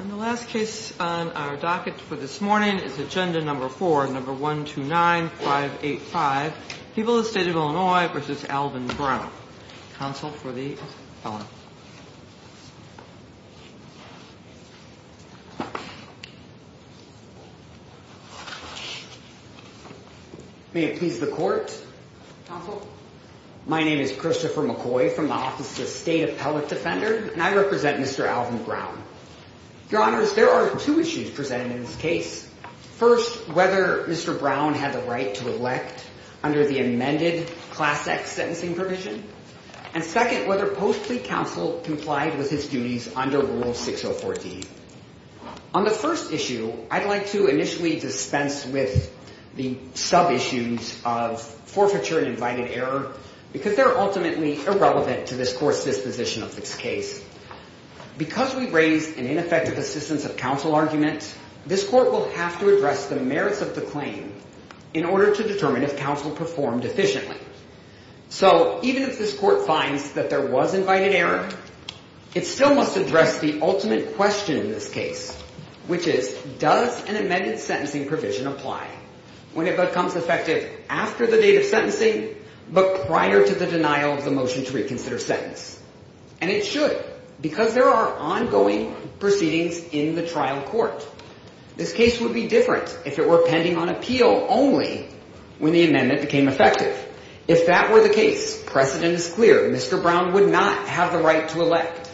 And the last case on our docket for this morning is agenda number four, number 129585, People of the State of Illinois v. Alvin Brown. Counsel for the appellant. May it please the court. Counsel. My name is Christopher McCoy from the Office of State Appellate Defender, and I represent Mr. Alvin Brown. Your Honors, there are two issues presented in this case. First, whether Mr. Brown had the right to elect under the amended Class X sentencing provision. And second, whether post-plea counsel complied with his duties under Rule 604D. On the first issue, I'd like to initially dispense with the sub-issues of forfeiture and invited error, because they're ultimately irrelevant to this court's disposition of this case. Because we raised an ineffective assistance of counsel argument, this court will have to address the merits of the claim in order to determine if counsel performed efficiently. So even if this court finds that there was invited error, it still must address the ultimate question in this case, which is, does an amended sentencing provision apply when it becomes effective after the date of sentencing, but prior to the denial of the motion to reconsider sentence? And it should, because there are ongoing proceedings in the trial court. This case would be different if it were pending on appeal only when the amendment became effective. If that were the case, precedent is clear, Mr. Brown would not have the right to elect.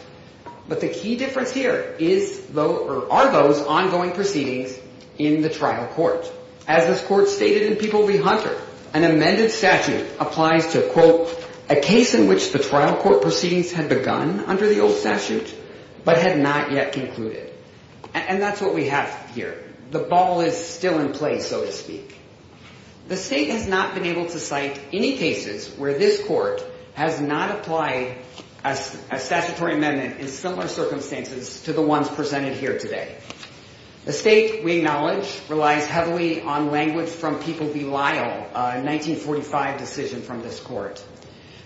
But the key difference here are those ongoing proceedings in the trial court. As this court stated in People v. Hunter, an amended statute applies to, quote, a case in which the trial court proceedings had begun under the old statute, but had not yet concluded. And that's what we have here. The ball is still in play, so to speak. The state has not been able to cite any cases where this court has not applied a statutory amendment in similar circumstances to the ones presented here today. The state, we acknowledge, relies heavily on language from People v. Lyle, a 1945 decision from this court.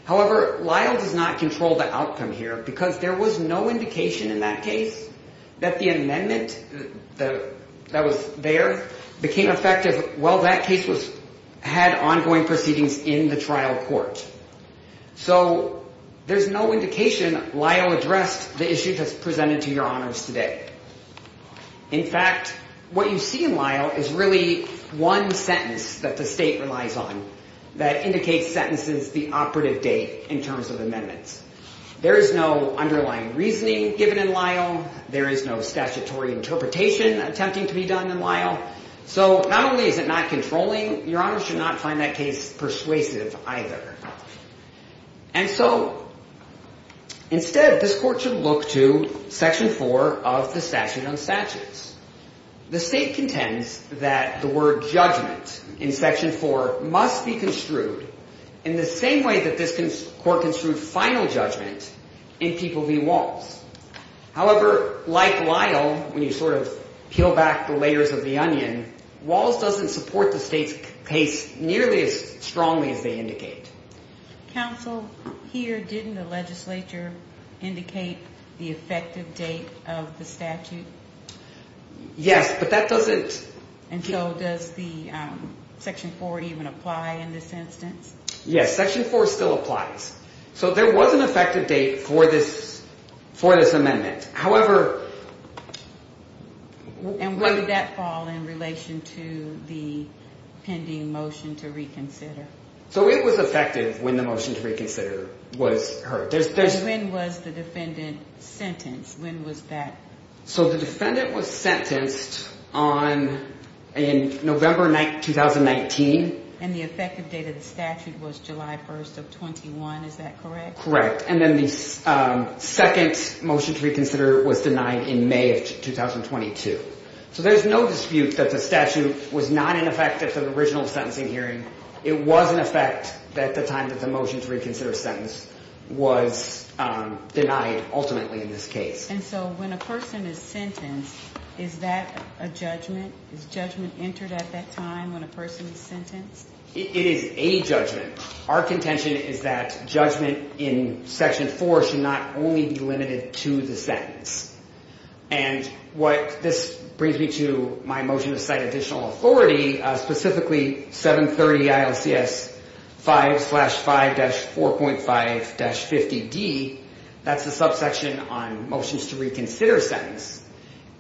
However, Lyle does not control the outcome here because there was no indication in that case that the amendment that was there became effective while that case had ongoing proceedings in the trial court. So there's no indication Lyle addressed the issue that's presented to your honors today. In fact, what you see in Lyle is really one sentence that the state relies on that indicates sentences the operative date in terms of amendments. There is no underlying reasoning given in Lyle. There is no statutory interpretation attempting to be done in Lyle. So not only is it not controlling, your honors should not find that case persuasive either. And so instead, this court should look to section four of the statute on statutes. The state contends that the word judgment in section four must be construed in the same way that this court construed final judgment in People v. Walz. However, like Lyle, when you sort of peel back the layers of the onion, Walz doesn't support the state's case nearly as strongly as they indicate. Counsel, here didn't the legislature indicate the effective date of the statute? Yes, but that doesn't... And so does the section four even apply in this instance? Yes, section four still applies. So there was an effective date for this amendment. However... And where did that fall in relation to the pending motion to reconsider? So it was effective when the motion to reconsider was heard. When was the defendant sentenced? When was that? So the defendant was sentenced in November 2019. And the effective date of the statute was July 1st of 21, is that correct? Correct. And then the second motion to reconsider was denied in May of 2022. So there's no dispute that the statute was not in effect at the original sentencing hearing. It was in effect at the time that the motion to reconsider sentence was denied ultimately in this case. And so when a person is sentenced, is that a judgment? Is judgment entered at that time when a person is sentenced? It is a judgment. Our contention is that judgment in section four should not only be limited to the sentence. And what this brings me to my motion to cite additional authority, specifically 730 ILCS 5-5-4.5-50D. That's the subsection on motions to reconsider sentence.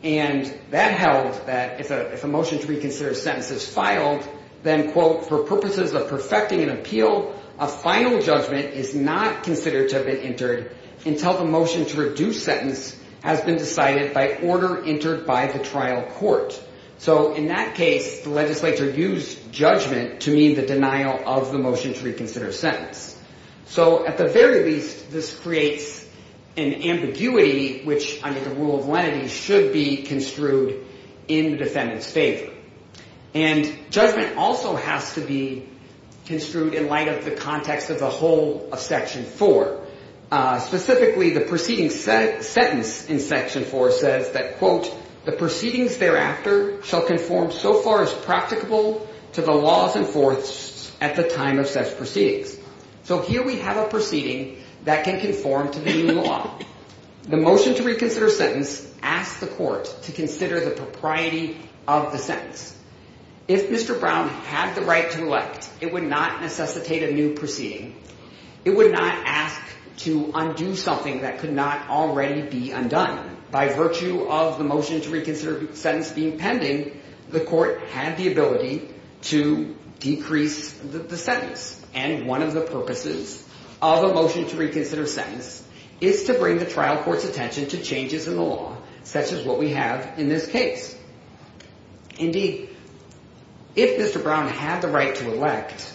And that held that if a motion to reconsider sentence is filed, then, quote, for purposes of perfecting an appeal, a final judgment is not considered to have been entered until the motion to reduce sentence has been decided by order entered by the trial court. So in that case, the legislature used judgment to mean the denial of the motion to reconsider sentence. So at the very least, this creates an ambiguity, which under the rule of lenity should be construed in the defendant's favor. And judgment also has to be construed in light of the context of the whole of section four. Specifically, the preceding sentence in section four says that, quote, the proceedings thereafter shall conform so far as practicable to the laws enforced at the time of such proceedings. So here we have a proceeding that can conform to the new law. The motion to reconsider sentence asked the court to consider the propriety of the sentence. If Mr. Brown had the right to elect, it would not necessitate a new proceeding. It would not ask to undo something that could not already be undone. By virtue of the motion to reconsider sentence being pending, the court had the ability to decrease the sentence. And one of the purposes of a motion to reconsider sentence is to bring the trial court's attention to changes in the law, such as what we have in this case. Indeed, if Mr. Brown had the right to elect,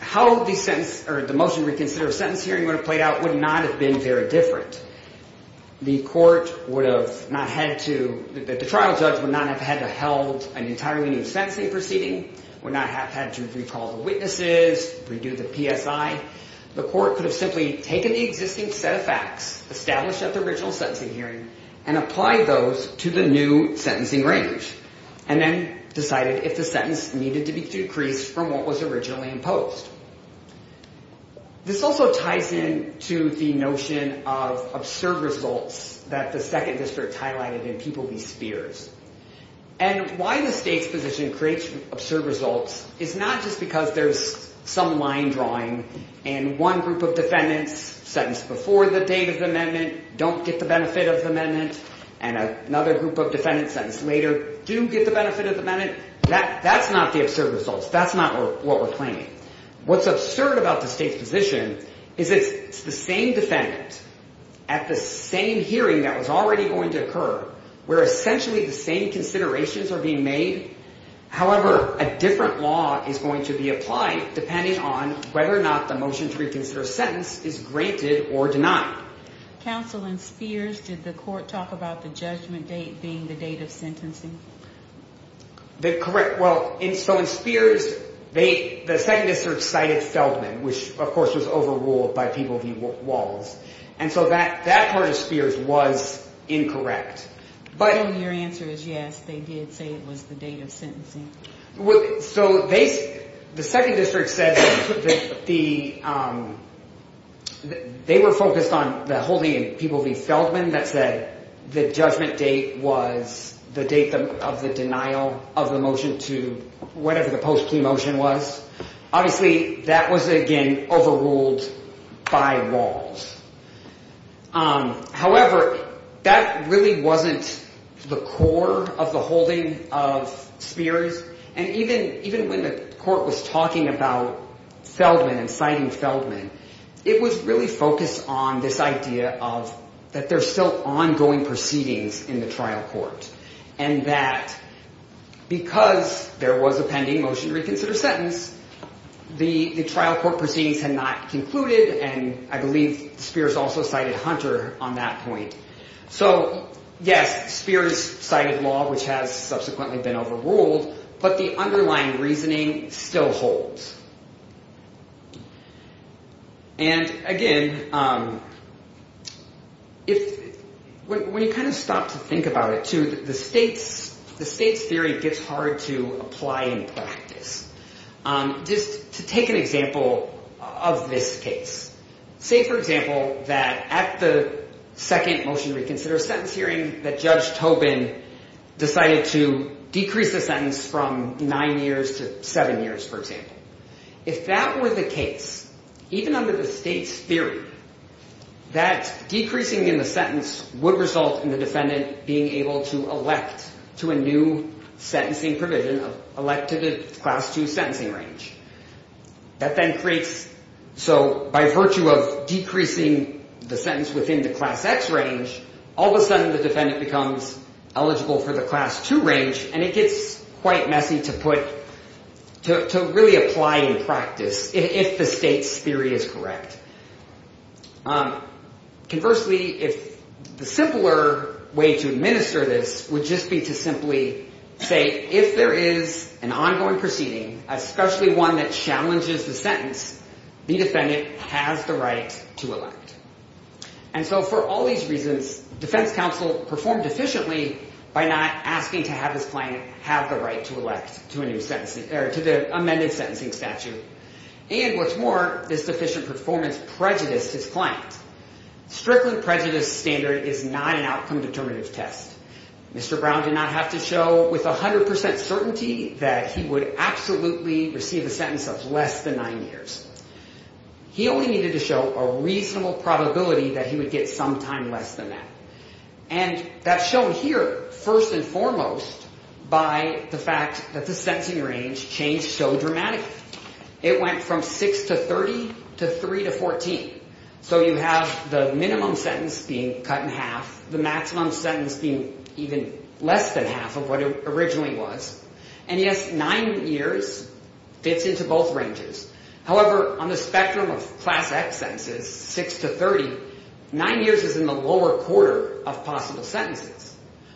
how the motion to reconsider sentence hearing would have played out would not have been very different. The trial judge would not have had to held an entirely new sentencing proceeding, would not have had to recall the witnesses, redo the PSI. The court could have simply taken the existing set of facts established at the original sentencing hearing and applied those to the new sentencing range and then decided if the sentence needed to be decreased from what was originally imposed. This also ties in to the notion of absurd results that the second district highlighted in Pupil v. Spears. And why the state's position creates absurd results is not just because there's some line drawing and one group of defendants sentenced before the date of the amendment don't get the benefit of the amendment. And another group of defendants sentenced later do get the benefit of the amendment. That's not the absurd results. That's not what we're claiming. What's absurd about the state's position is it's the same defendant at the same hearing that was already going to occur where essentially the same considerations are being made. However, a different law is going to be applied depending on whether or not the motion to reconsider sentence is granted or denied. Counsel in Spears, did the court talk about the judgment date being the date of sentencing? Well, so in Spears, the second district cited Feldman, which of course was overruled by Pupil v. Walls. And so that part of Spears was incorrect. But your answer is yes, they did say it was the date of sentencing. So the second district said that they were focused on the holding of Pupil v. Feldman that said the judgment date was the date of the denial of the motion to whatever the post-plea motion was. Obviously, that was again overruled by Walls. However, that really wasn't the core of the holding of Spears. And even when the court was talking about Feldman and citing Feldman, it was really focused on this idea of that there's still ongoing proceedings in the trial court. And that because there was a pending motion to reconsider sentence, the trial court proceedings had not concluded. And I believe Spears also cited Hunter on that point. So yes, Spears cited law, which has subsequently been overruled, but the underlying reasoning still holds. And again, when you kind of stop to think about it, too, the state's theory gets hard to apply in practice. Just to take an example of this case. Say, for example, that at the second motion to reconsider a sentence hearing that Judge Tobin decided to decrease the sentence from nine years to seven years, for example. If that were the case, even under the state's theory, that decreasing in the sentence would result in the defendant being able to elect to a new sentencing provision, elect to the Class 2 sentencing range. That then creates, so by virtue of decreasing the sentence within the Class X range, all of a sudden the defendant becomes eligible for the Class 2 range, and it gets quite messy to put, to really apply in practice if the state's theory is correct. Conversely, if the simpler way to administer this would just be to simply say, if there is an ongoing proceeding, especially one that challenges the sentence, the defendant has the right to elect. And so for all these reasons, defense counsel performed efficiently by not asking to have his client have the right to elect to a new sentencing, or to the amended sentencing statute. And what's more, this deficient performance prejudiced his client. Strictly prejudiced standard is not an outcome determinative test. Mr. Brown did not have to show with 100% certainty that he would absolutely receive a sentence of less than nine years. He only needed to show a reasonable probability that he would get some time less than that. And that's shown here, first and foremost, by the fact that the sentencing range changed so dramatically. It went from six to 30, to three to 14. So you have the minimum sentence being cut in half, the maximum sentence being even less than half of what it originally was. And yes, nine years fits into both ranges. However, on the spectrum of Class X sentences, six to 30, nine years is in the lower quarter of possible sentences.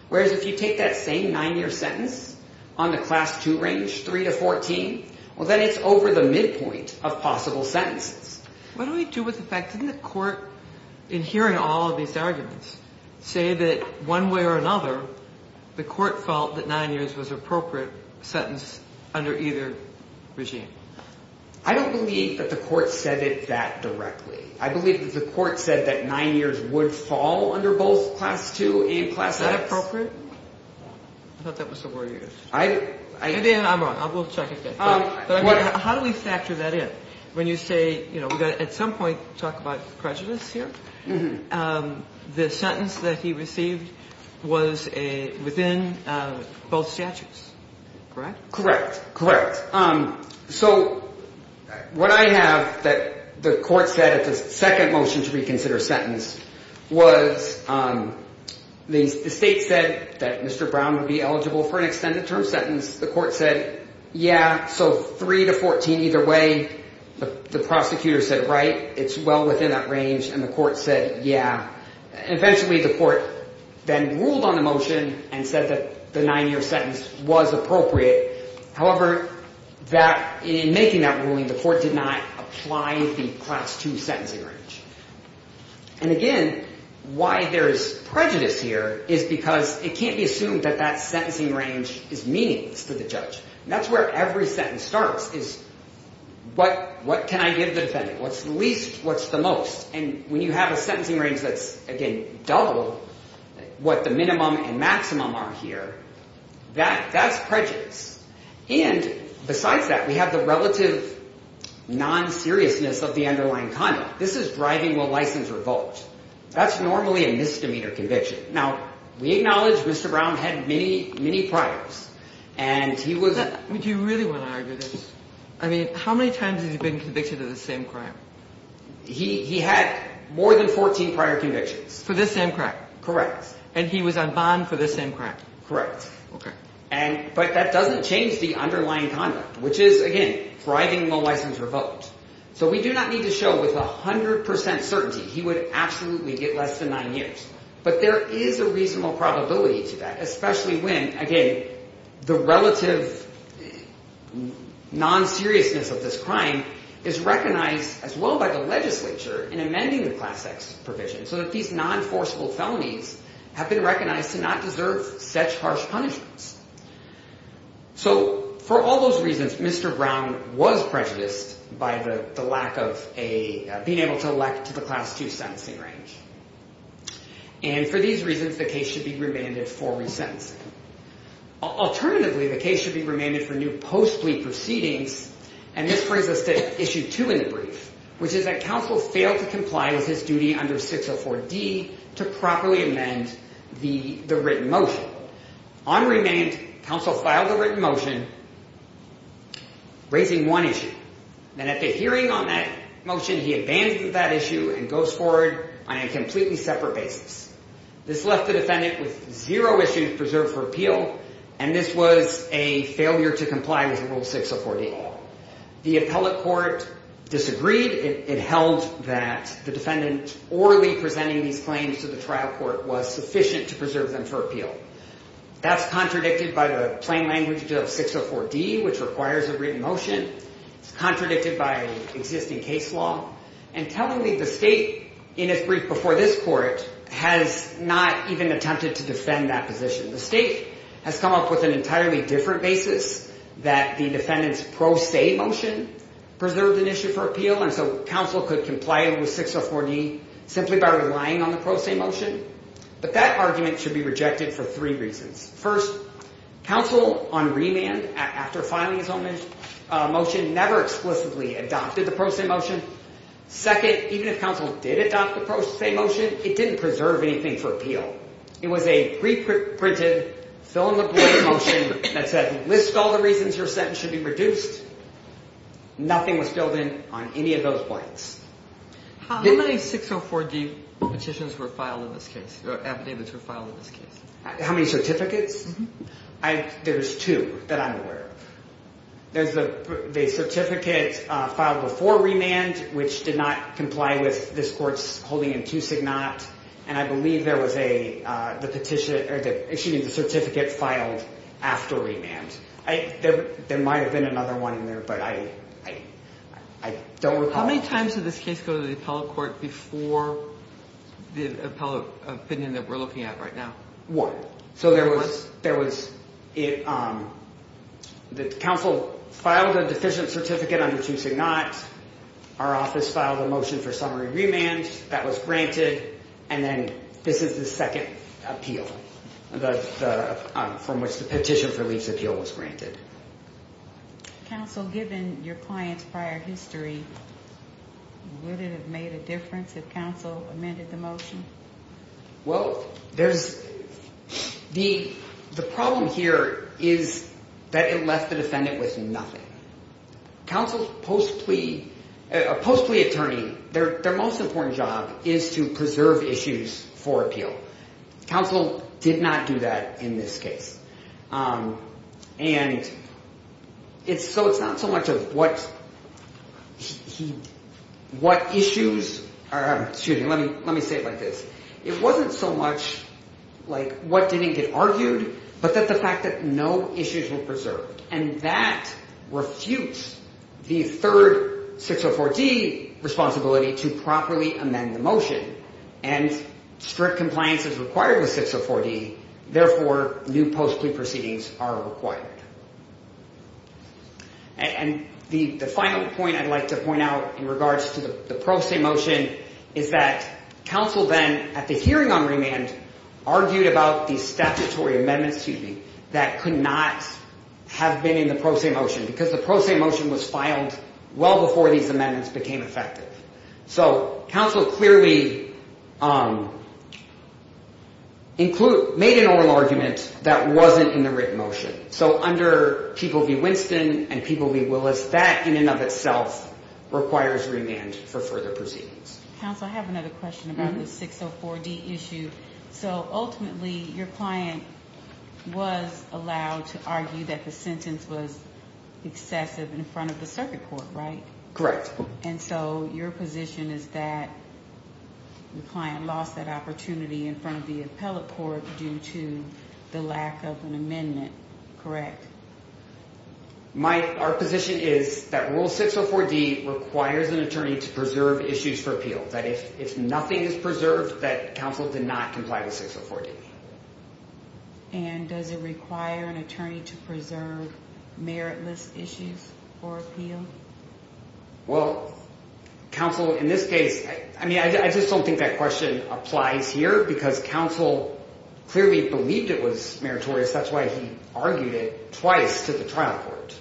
Whereas if you take that same nine-year sentence on the Class II range, three to 14, well, then it's over the midpoint of possible sentences. What do we do with the fact, didn't the court, in hearing all of these arguments, say that one way or another, the court felt that nine years was an appropriate sentence under either regime? I don't believe that the court said it that directly. I believe that the court said that nine years would fall under both Class II and Class X. Is that appropriate? I thought that was the word you used. I didn't. I'm wrong. We'll check it then. How do we factor that in? When you say, you know, we've got to at some point talk about prejudice here. The sentence that he received was within both statutes, correct? Correct, correct. So what I have that the court said at the second motion to reconsider sentence was the state said that Mr. Brown would be eligible for an extended term sentence. The court said, yeah, so three to 14 either way. The prosecutor said, right, it's well within that range, and the court said, yeah. Eventually, the court then ruled on the motion and said that the nine-year sentence was appropriate. However, in making that ruling, the court did not apply the Class II sentencing range. And again, why there's prejudice here is because it can't be assumed that that sentencing range is meaningless to the judge. And that's where every sentence starts, is what can I give the defendant? What's the least? What's the most? And when you have a sentencing range that's, again, double what the minimum and maximum are here, that's prejudice. And besides that, we have the relative non-seriousness of the underlying conduct. This is driving a license revolt. That's normally a misdemeanor conviction. Now, we acknowledge Mr. Brown had many, many priors. Would you really want to argue this? I mean, how many times has he been convicted of the same crime? He had more than 14 prior convictions. For this same crime. Correct. And he was on bond for this same crime. Correct. Okay. But that doesn't change the underlying conduct, which is, again, driving a license revolt. So we do not need to show with 100 percent certainty he would absolutely get less than nine years. But there is a reasonable probability to that, especially when, again, the relative non-seriousness of this crime is recognized as well by the legislature in amending the Class X provision. So that these non-forceful felonies have been recognized to not deserve such harsh punishments. So for all those reasons, Mr. Brown was prejudiced by the lack of being able to elect to the Class 2 sentencing range. And for these reasons, the case should be remanded for resentencing. Alternatively, the case should be remanded for new post-plea proceedings. And this brings us to Issue 2 in the brief, which is that counsel failed to comply with his duty under 604D to properly amend the written motion. On remand, counsel filed a written motion raising one issue. And at the hearing on that motion, he abandoned that issue and goes forward on a completely separate basis. This left the defendant with zero issues preserved for appeal. And this was a failure to comply with Rule 604D. The appellate court disagreed. It held that the defendant orally presenting these claims to the trial court was sufficient to preserve them for appeal. That's contradicted by the plain language of 604D, which requires a written motion. Contradicted by existing case law. And telling me the state in its brief before this court has not even attempted to defend that position. The state has come up with an entirely different basis that the defendant's pro se motion preserved an issue for appeal. And so counsel could comply with 604D simply by relying on the pro se motion. But that argument should be rejected for three reasons. First, counsel on remand, after filing his own motion, never explicitly adopted the pro se motion. Second, even if counsel did adopt the pro se motion, it didn't preserve anything for appeal. It was a pre-printed, fill-in-the-blank motion that said, list all the reasons your sentence should be reduced. Nothing was filled in on any of those points. How many 604D petitions were filed in this case, or affidavits were filed in this case? How many certificates? There's two that I'm aware of. There's the certificate filed before remand, which did not comply with this court's holding in two signat. And I believe there was a petition, excuse me, the certificate filed after remand. There might have been another one in there, but I don't recall. How many times did this case go to the appellate court before the appellate opinion that we're looking at right now? One. So there was, there was, the counsel filed a deficient certificate under two signat. Our office filed a motion for summary remand. That was granted, and then this is the second appeal, from which the petition for leaf's appeal was granted. Counsel, given your client's prior history, would it have made a difference if counsel amended the motion? Well, there's, the problem here is that it left the defendant with nothing. Counsel's post plea, a post plea attorney, their most important job is to preserve issues for appeal. Counsel did not do that in this case. And it's so, it's not so much of what he, what issues are, excuse me, let me, let me say it like this. It wasn't so much like what didn't get argued, but that the fact that no issues were preserved. And that refutes the third 604D responsibility to properly amend the motion. And strict compliance is required with 604D. Therefore, new post plea proceedings are required. And the final point I'd like to point out in regards to the pro se motion is that counsel then, at the hearing on remand, argued about the statutory amendments, excuse me, that could not have been in the pro se motion. Because the pro se motion was filed well before these amendments became effective. So, counsel clearly include, made an oral argument that wasn't in the written motion. So, under People v. Winston and People v. Willis, that in and of itself requires remand for further proceedings. Counsel, I have another question about the 604D issue. So, ultimately, your client was allowed to argue that the sentence was excessive in front of the circuit court, right? Correct. And your position is that the client lost that opportunity in front of the appellate court due to the lack of an amendment, correct? My, our position is that Rule 604D requires an attorney to preserve issues for appeal. That if nothing is preserved, that counsel did not comply with 604D. And does it require an attorney to preserve meritless issues for appeal? Well, counsel, in this case, I mean, I just don't think that question applies here because counsel clearly believed it was meritorious. That's why he argued it twice to the trial court.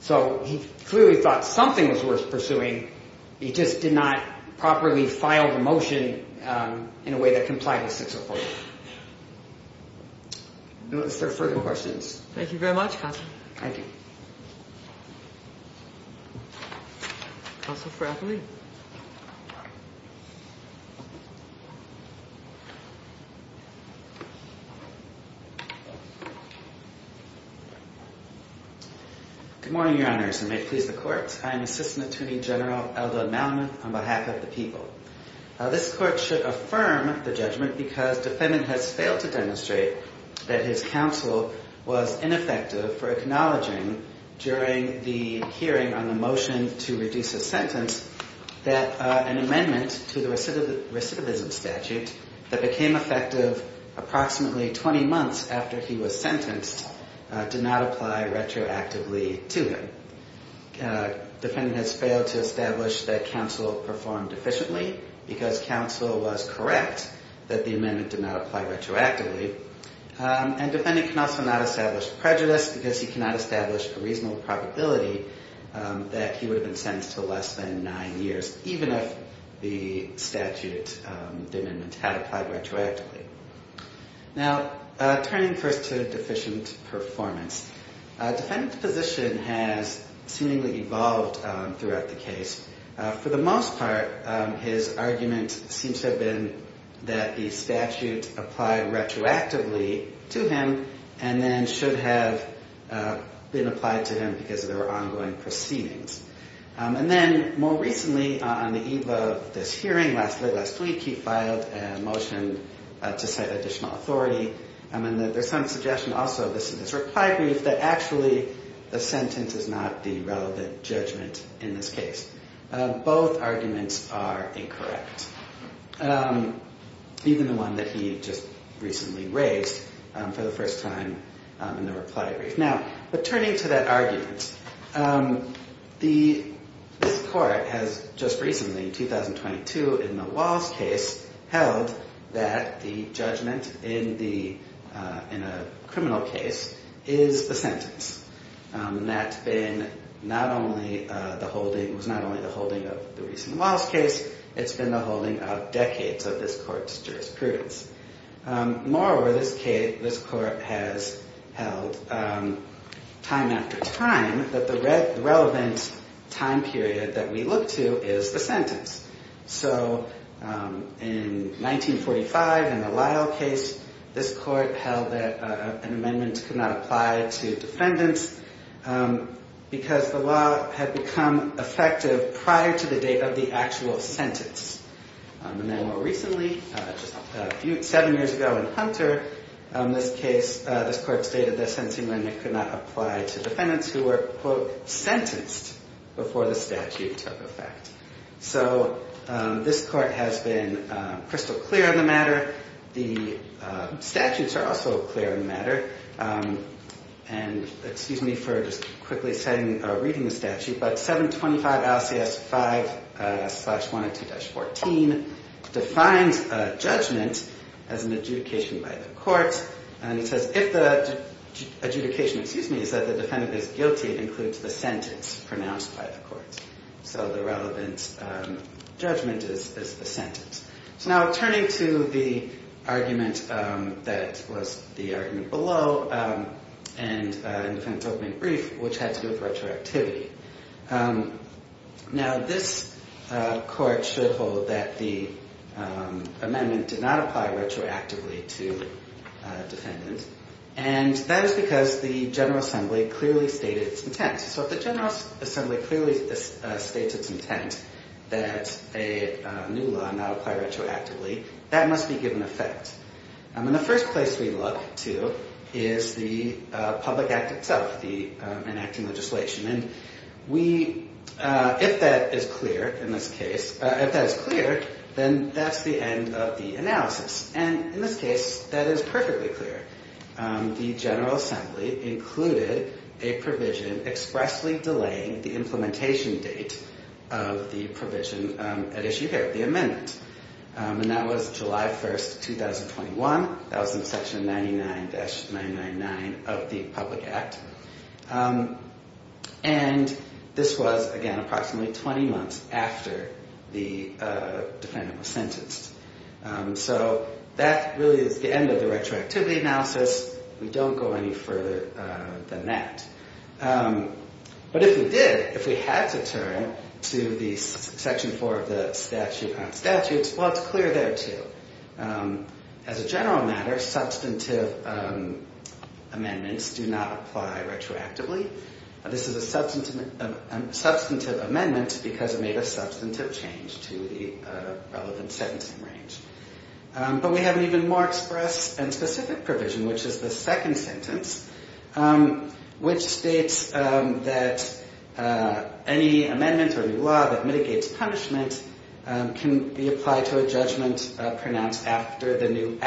So, he clearly thought something was worth pursuing. He just did not properly file the motion in a way that complied with 604D. Is there further questions? Thank you very much, counsel. Thank you. Counsel Frakely? Good morning, Your Honors, and may it please the Court. I am Assistant Attorney General Eldon Malamuth on behalf of the people. This Court should affirm the judgment because defendant has failed to demonstrate that his counsel was ineffective for acknowledging during the hearing on the motion to reduce a sentence that an amendment to the recidivism statute that became effective approximately 20 months after he was sentenced did not apply retroactively to him. Defendant has failed to establish that counsel performed efficiently because counsel was correct that the amendment did not apply retroactively. And defendant can also not establish prejudice because he cannot establish a reasonable probability that he would have been sentenced to less than nine years, even if the statute, the amendment had applied retroactively. Now, turning first to deficient performance. Defendant's position has seemingly evolved throughout the case. For the most part, his argument seems to have been that the statute applied retroactively to him and then should have been applied to him because of their ongoing proceedings. And then more recently, on the eve of this hearing last week, he filed a motion to set additional authority. And there's some suggestion also in this reply brief that actually the sentence is not the relevant judgment in this case. Both arguments are incorrect, even the one that he just recently raised for the first time in the reply brief. Now, returning to that argument, this court has just recently, in 2022, in the Wallace case, held that the judgment in a criminal case is the sentence. And that's been not only the holding of the recent Wallace case, it's been the holding of decades of this court's jurisprudence. Moreover, this case, this court has held time after time that the relevant time period that we look to is the sentence. So in 1945, in the Lyle case, this court held that an amendment could not apply to defendants because the law had become effective prior to the date of the actual sentence. And then more recently, just a few, seven years ago in Hunter, this case, this court stated that an amendment could not apply to defendants who were, quote, sentenced before the statute took effect. So this court has been crystal clear on the matter. The statutes are also clear on the matter. And excuse me for just quickly reading the statute, but 725 LCS 5-102-14 defines a judgment as an adjudication by the court. And it says, if the adjudication, excuse me, is that the defendant is guilty, it includes the sentence pronounced by the court. So the relevant judgment is the sentence. So now turning to the argument that was the argument below, and the defendant's opening brief, which had to do with retroactivity. Now this court should hold that the amendment did not apply retroactively to defendants. And that is because the General Assembly clearly stated its intent. So if the General Assembly clearly states its intent that a new law not apply retroactively, that must be given effect. And the first place we look to is the public act itself, the enacting legislation. And we, if that is clear in this case, if that is clear, then that's the end of the analysis. And in this case, that is perfectly clear. The General Assembly included a provision expressly delaying the implementation date of the provision at issue here, the amendment. And that was July 1, 2021. That was in section 99-999 of the public act. And this was, again, approximately 20 months after the defendant was sentenced. So that really is the end of the retroactivity analysis. We don't go any further than that. But if we did, if we had to turn to the section 4 of the statute on statutes, well, it's clear there too. As a general matter, substantive amendments do not apply retroactively. This is a substantive amendment because it made a substantive change to the relevant sentencing range. But we have an even more express and specific provision, which is the second sentence, which states that any amendment or new law that mitigates punishment can be applied to a judgment pronounced after the new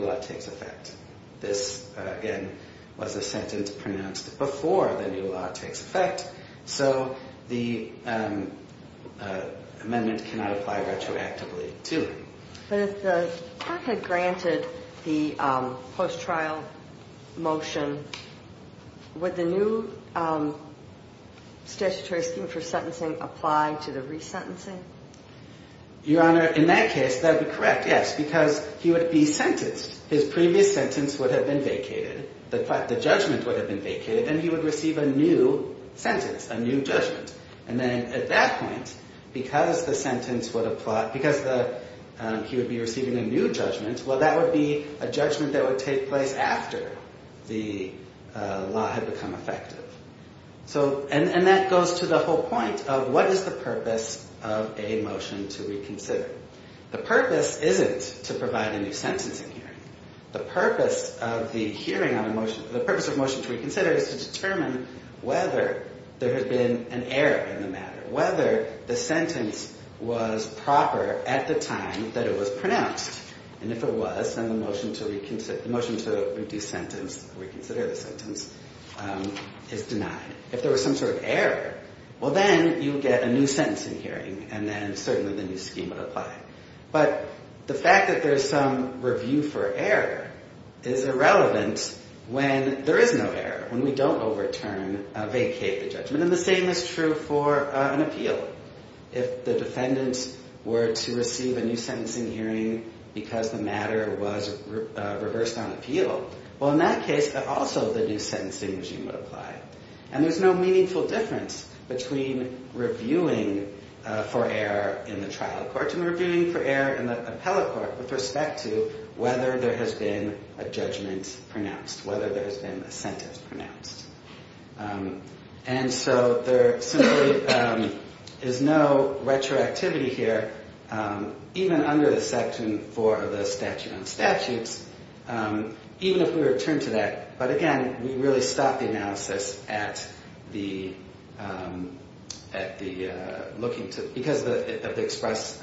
law takes effect. This, again, was a sentence pronounced before the new law takes effect. So the amendment cannot apply retroactively too. But if the court had granted the post-trial motion, would the new statutory scheme for sentencing apply to the resentencing? Your Honor, in that case, that would be correct, yes, because he would be sentenced. His previous sentence would have been vacated. The judgment would have been vacated, and he would receive a new sentence, a new judgment. And then at that point, because the sentence would apply, because he would be receiving a new judgment, well, that would be a judgment that would take place after the law had become effective. So, and that goes to the whole point of what is the purpose of a motion to reconsider? The purpose isn't to provide a new sentencing hearing. The purpose of the hearing on a motion, the purpose of a motion to reconsider is to determine whether there has been an error in the matter, whether the sentence was proper at the time that it was pronounced. And if it was, then the motion to reconsider the sentence is denied. If there was some sort of error, well, then you would get a new sentencing hearing, and then certainly the new scheme would apply. But the fact that there's some review for error is irrelevant when there is no error, when we don't overturn, vacate the judgment. And the same is true for an appeal. If the defendants were to receive a new sentencing hearing because the matter was reversed on appeal, well, in that case, also the new sentencing regime would apply. And there's no meaningful difference between reviewing for error in the trial court and reviewing for error in the appellate court with respect to whether there has been a judgment pronounced, whether there has been a sentence pronounced. And so there simply is no retroactivity here, even under the Section 4 of the Statute on Statutes, even if we return to that. But again, we really stop the analysis because of the express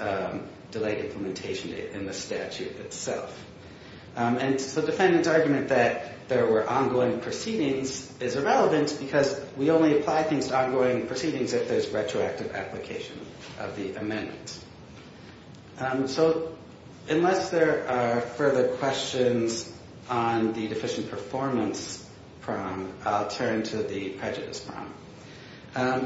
delayed implementation in the statute itself. And so the defendant's argument that there were ongoing proceedings is irrelevant because we only apply things to ongoing proceedings if there's retroactive application of the amendments. So unless there are further questions on the deficient performance prong, I'll turn to the prejudice prong.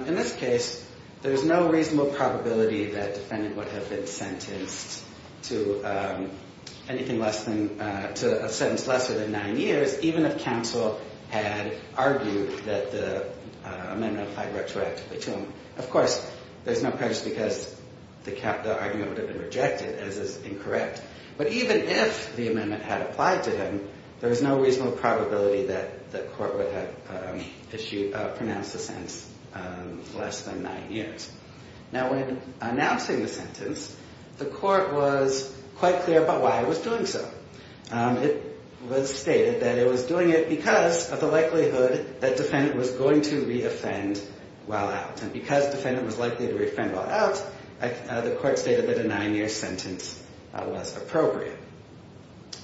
In this case, there's no reasonable probability that the defendant would have been sentenced to anything less than, to a sentence lesser than nine years, even if counsel had argued that the amendment applied retroactively to him. Of course, there's no prejudice because the argument would have been rejected, as is incorrect. But even if the amendment had applied to him, there's no reasonable probability that the court would have issued, pronounced the sentence less than nine years. Now, when announcing the sentence, the court was quite clear about why it was doing so. It was stated that it was doing it because of the likelihood that the defendant was going to re-offend while out. And because the defendant was likely to re-offend while out, the court stated that a nine-year sentence was appropriate.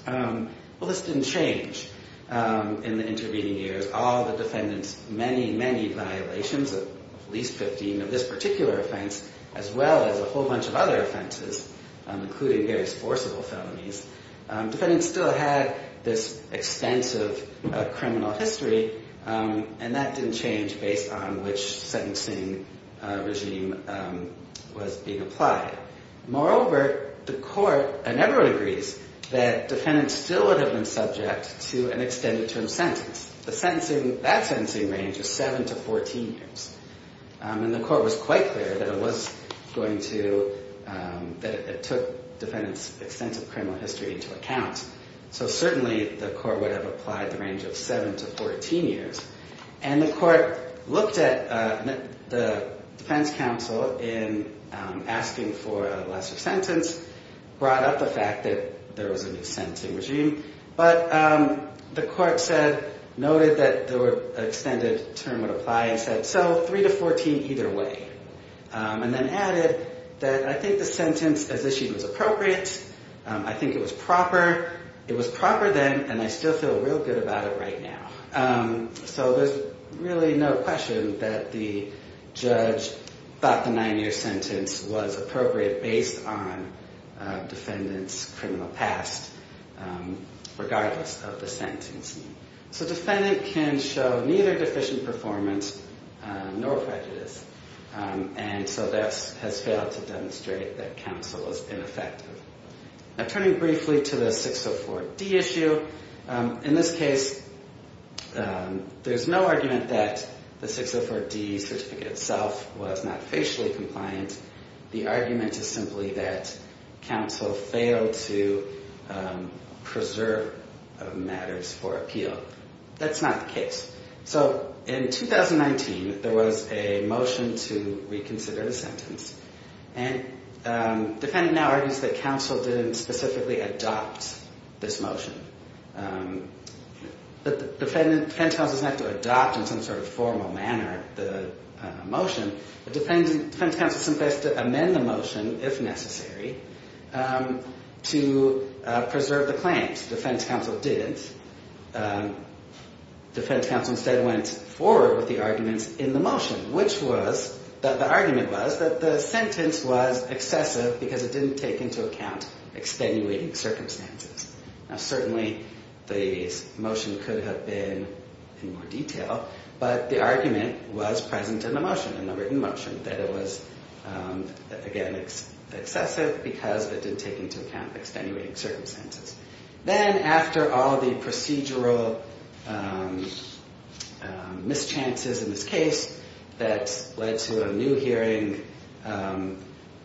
Well, this didn't change in the intervening years. All the defendants, many, many violations, at least 15 of this particular offense, as well as a whole bunch of other offenses, including various forcible felonies. Defendants still had this extensive criminal history, and that didn't change based on which sentencing regime was being applied. Moreover, the court, and everyone agrees, that defendants still would have been subject to an extended term sentence. That sentencing range was seven to 14 years. And the court was quite clear that it was going to, that it took defendants' extensive criminal history into account. So certainly, the court would have applied the range of seven to 14 years. And the court looked at the defense counsel in asking for a lesser sentence, brought up the fact that there was a new sentencing regime, but the court said, noted that the extended term would apply, and said, so three to 14 either way. And then added that I think the sentence as issued was appropriate, I think it was proper, it was proper then, and I still feel real good about it right now. So there's really no question that the judge thought the nine-year sentence was appropriate based on defendants' criminal past, regardless of the sentencing. So defendant can show neither deficient performance nor prejudice. And so that has failed to demonstrate that counsel is ineffective. Now turning briefly to the 604D issue, in this case, there's no argument that the 604D certificate itself was not facially compliant. The argument is simply that counsel failed to preserve matters for appeal. That's not the case. So in 2019, there was a motion to reconsider the sentence. And defendant now argues that counsel didn't specifically adopt this motion. But defense counsel doesn't have to adopt in some sort of formal manner the motion. But defense counsel simply has to amend the motion, if necessary, to preserve the claims. Defense counsel didn't. Defense counsel instead went forward with the arguments in the motion, which was that the argument was that the sentence was excessive because it didn't take into account extenuating circumstances. Now certainly the motion could have been in more detail, but the argument was present in the motion, in the written motion, that it was, again, excessive because it didn't take into account extenuating circumstances. Then after all the procedural mischances in this case, that led to a new hearing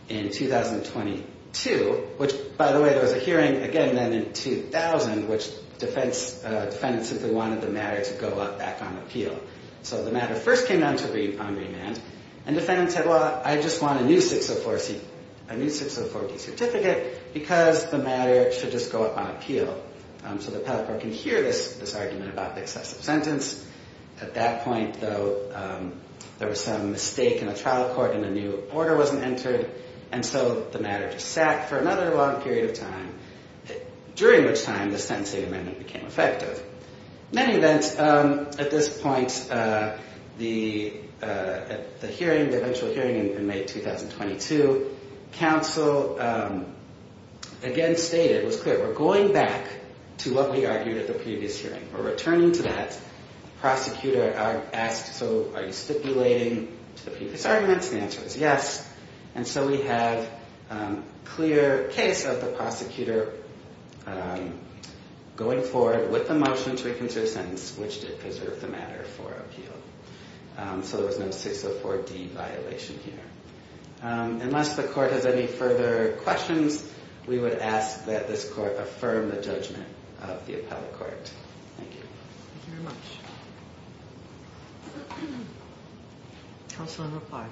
in 2022, which, by the way, there was a hearing again then in 2000, which defendants simply wanted the matter to go up back on appeal. So the matter first came down to be on remand. And defendants said, well, I just want a new 604D certificate because the matter should just go up on appeal. So the peddler can hear this argument about the excessive sentence. At that point, though, there was some mistake in the trial court and a new order wasn't entered. And so the matter just sat for another long period of time, during which time the sentencing amendment became effective. In any event, at this point, the hearing, the eventual hearing in May 2022, counsel again stated, it was clear, we're going back to what we argued at the previous hearing. We're returning to that. Prosecutor asked, so are you stipulating the previous arguments? The answer is yes. And so we have a clear case of the prosecutor going forward with the motion to reconsider the sentence, which did preserve the matter for appeal. So there was no 604D violation here. Unless the court has any further questions, we would ask that this court affirm the judgment of the appellate court. Thank you. Thank you very much. Counsel in reply.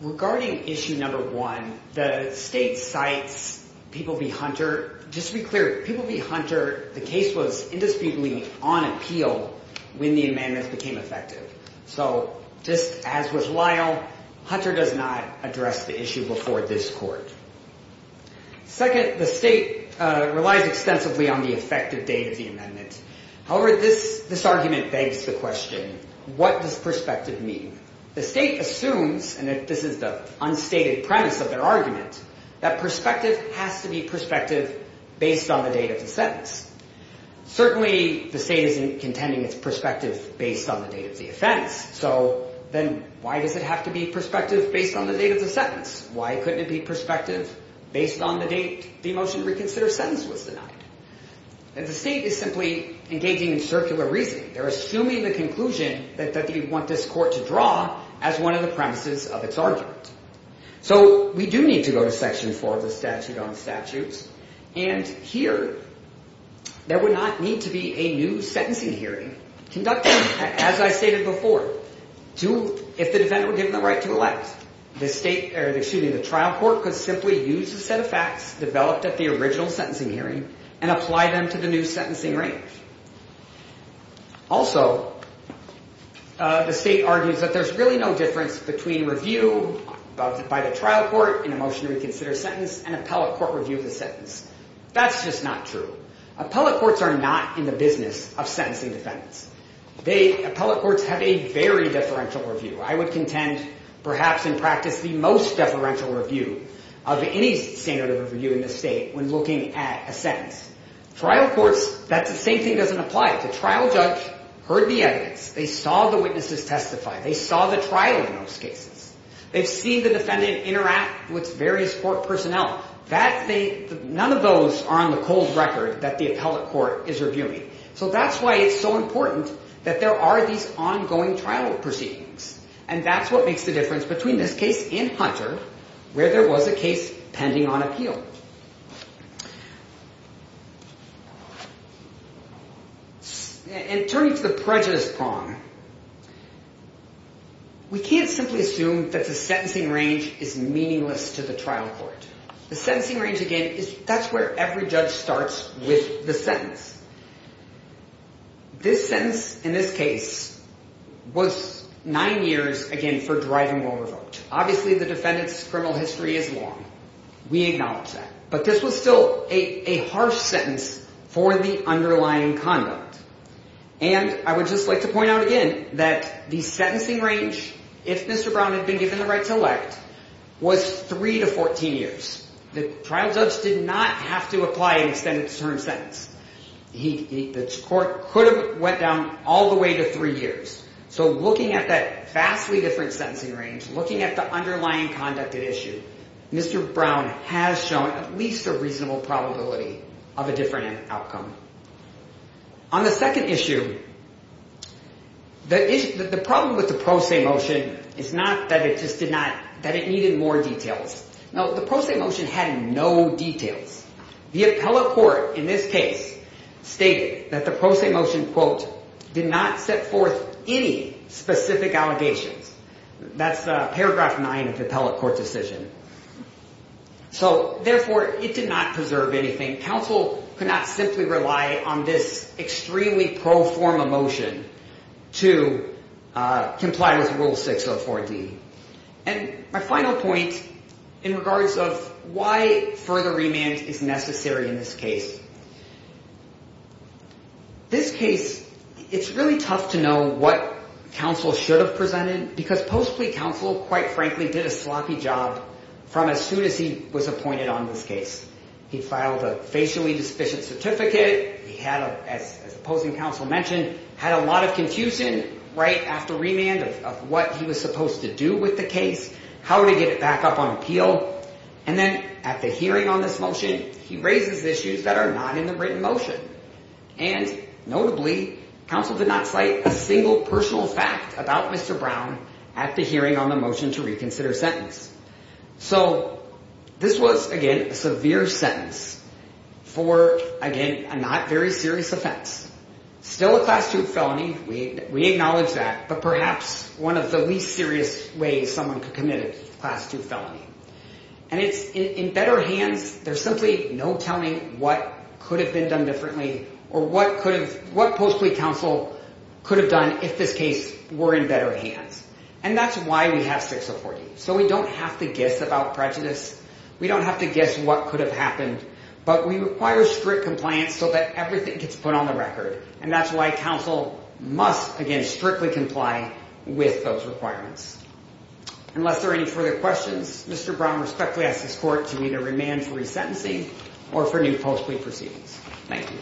Regarding issue number one, the state cites People v. Hunter. Just to be clear, People v. Hunter, the case was indisputably on appeal when the amendments became effective. So just as with Lyle, Hunter does not address the issue before this court. Second, the state relies extensively on the effective date of the amendment. However, this argument begs the question, what does perspective mean? The state assumes, and this is the unstated premise of their argument, that perspective has to be perspective based on the date of the sentence. Certainly, the state isn't contending it's perspective based on the date of the offense. So then why does it have to be perspective based on the date of the sentence? Why couldn't it be perspective based on the date the motion to reconsider sentence was denied? And the state is simply engaging in circular reasoning. They're assuming the conclusion that they want this court to draw as one of the premises of its argument. So we do need to go to section four of the statute on statutes. And here, there would not need to be a new sentencing hearing conducted, as I stated before, if the defendant were given the right to elect. The trial court could simply use the set of facts developed at the original sentencing hearing and apply them to the new sentencing range. Also, the state argues that there's really no difference between review by the trial court in a motion to reconsider sentence and appellate court review of the sentence. That's just not true. Appellate courts are not in the business of sentencing defendants. Appellate courts have a very differential review. I would contend, perhaps in practice, the most differential review of any standard of review in the state when looking at a sentence. Trial courts, that same thing doesn't apply. The trial judge heard the evidence. They saw the witnesses testify. They saw the trial in most cases. They've seen the defendant interact with various court personnel. None of those are on the cold record that the appellate court is reviewing. That's why it's so important that there are these ongoing trial proceedings. That's what makes the difference between this case and Hunter where there was a case pending on appeal. Turning to the prejudice prong, we can't simply assume is meaningless to the trial court. The sentencing range, again, that's where every judge starts with the sentence. This sentence in this case was nine years, again, for driving while revoked. Obviously, the defendant's criminal history is long. We acknowledge that. But this was still a harsh sentence for the underlying conduct. And I would just like to point out again that the sentencing range, if Mr. Brown had been given the right to elect, was three to 14 years. The trial judge didn't know that he did not have to apply an extended term sentence. The court could have went down all the way to three years. So looking at that vastly different sentencing range, looking at the underlying conduct at issue, Mr. Brown has shown at least a reasonable probability of a different outcome. On the second issue, the problem with the pro se motion is not that it just did not, that it needed more details. No, the pro se motion had no details. The appellate court in this case stated that the pro se motion, quote, did not set forth any specific allegations. That's paragraph nine of the appellate court decision. So, therefore, it did not preserve anything. Counsel could not simply rely on this extremely pro forma motion to comply with Rule 604D. And my final point in regards of why further remand is necessary in this case. This case, it's really tough to know what counsel should have presented because post-plea counsel, quite frankly, did a sloppy job from as soon as he was appointed on this case. He filed a facially deficient certificate. He had, as opposing counsel mentioned, had a lot of confusion right after remand of what he was supposed to do with the case, how to get it back up on appeal. And then at the hearing on this motion, he raises issues that are not in the written motion. And, notably, counsel did not cite a single personal fact about Mr. Brown at the hearing on the motion to reconsider sentence. So, this was, again, a severe sentence for, again, a not very serious offense. Still a class two felony. We acknowledge that. He committed a class two felony. And it's in better hands. There's simply no telling what could have been done differently or what post-plea counsel could have done if this case were in better hands. And that's why we have strict support. So we don't have to guess about prejudice. We don't have to guess what could have happened. But we require strict compliance so that everything gets put on the record. And that's why counsel must, again, strictly comply with those requirements. If there are any further questions, Mr. Brown respectfully asks this court to either remand for resentencing or for new post-plea proceedings. Thank you.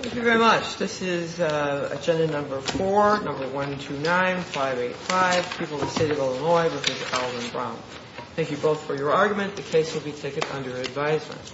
Thank you very much. This is agenda number four, number 129585, People of the State of Illinois versus Alvin Brown. Thank you both for your argument. The case will be taken under advisement.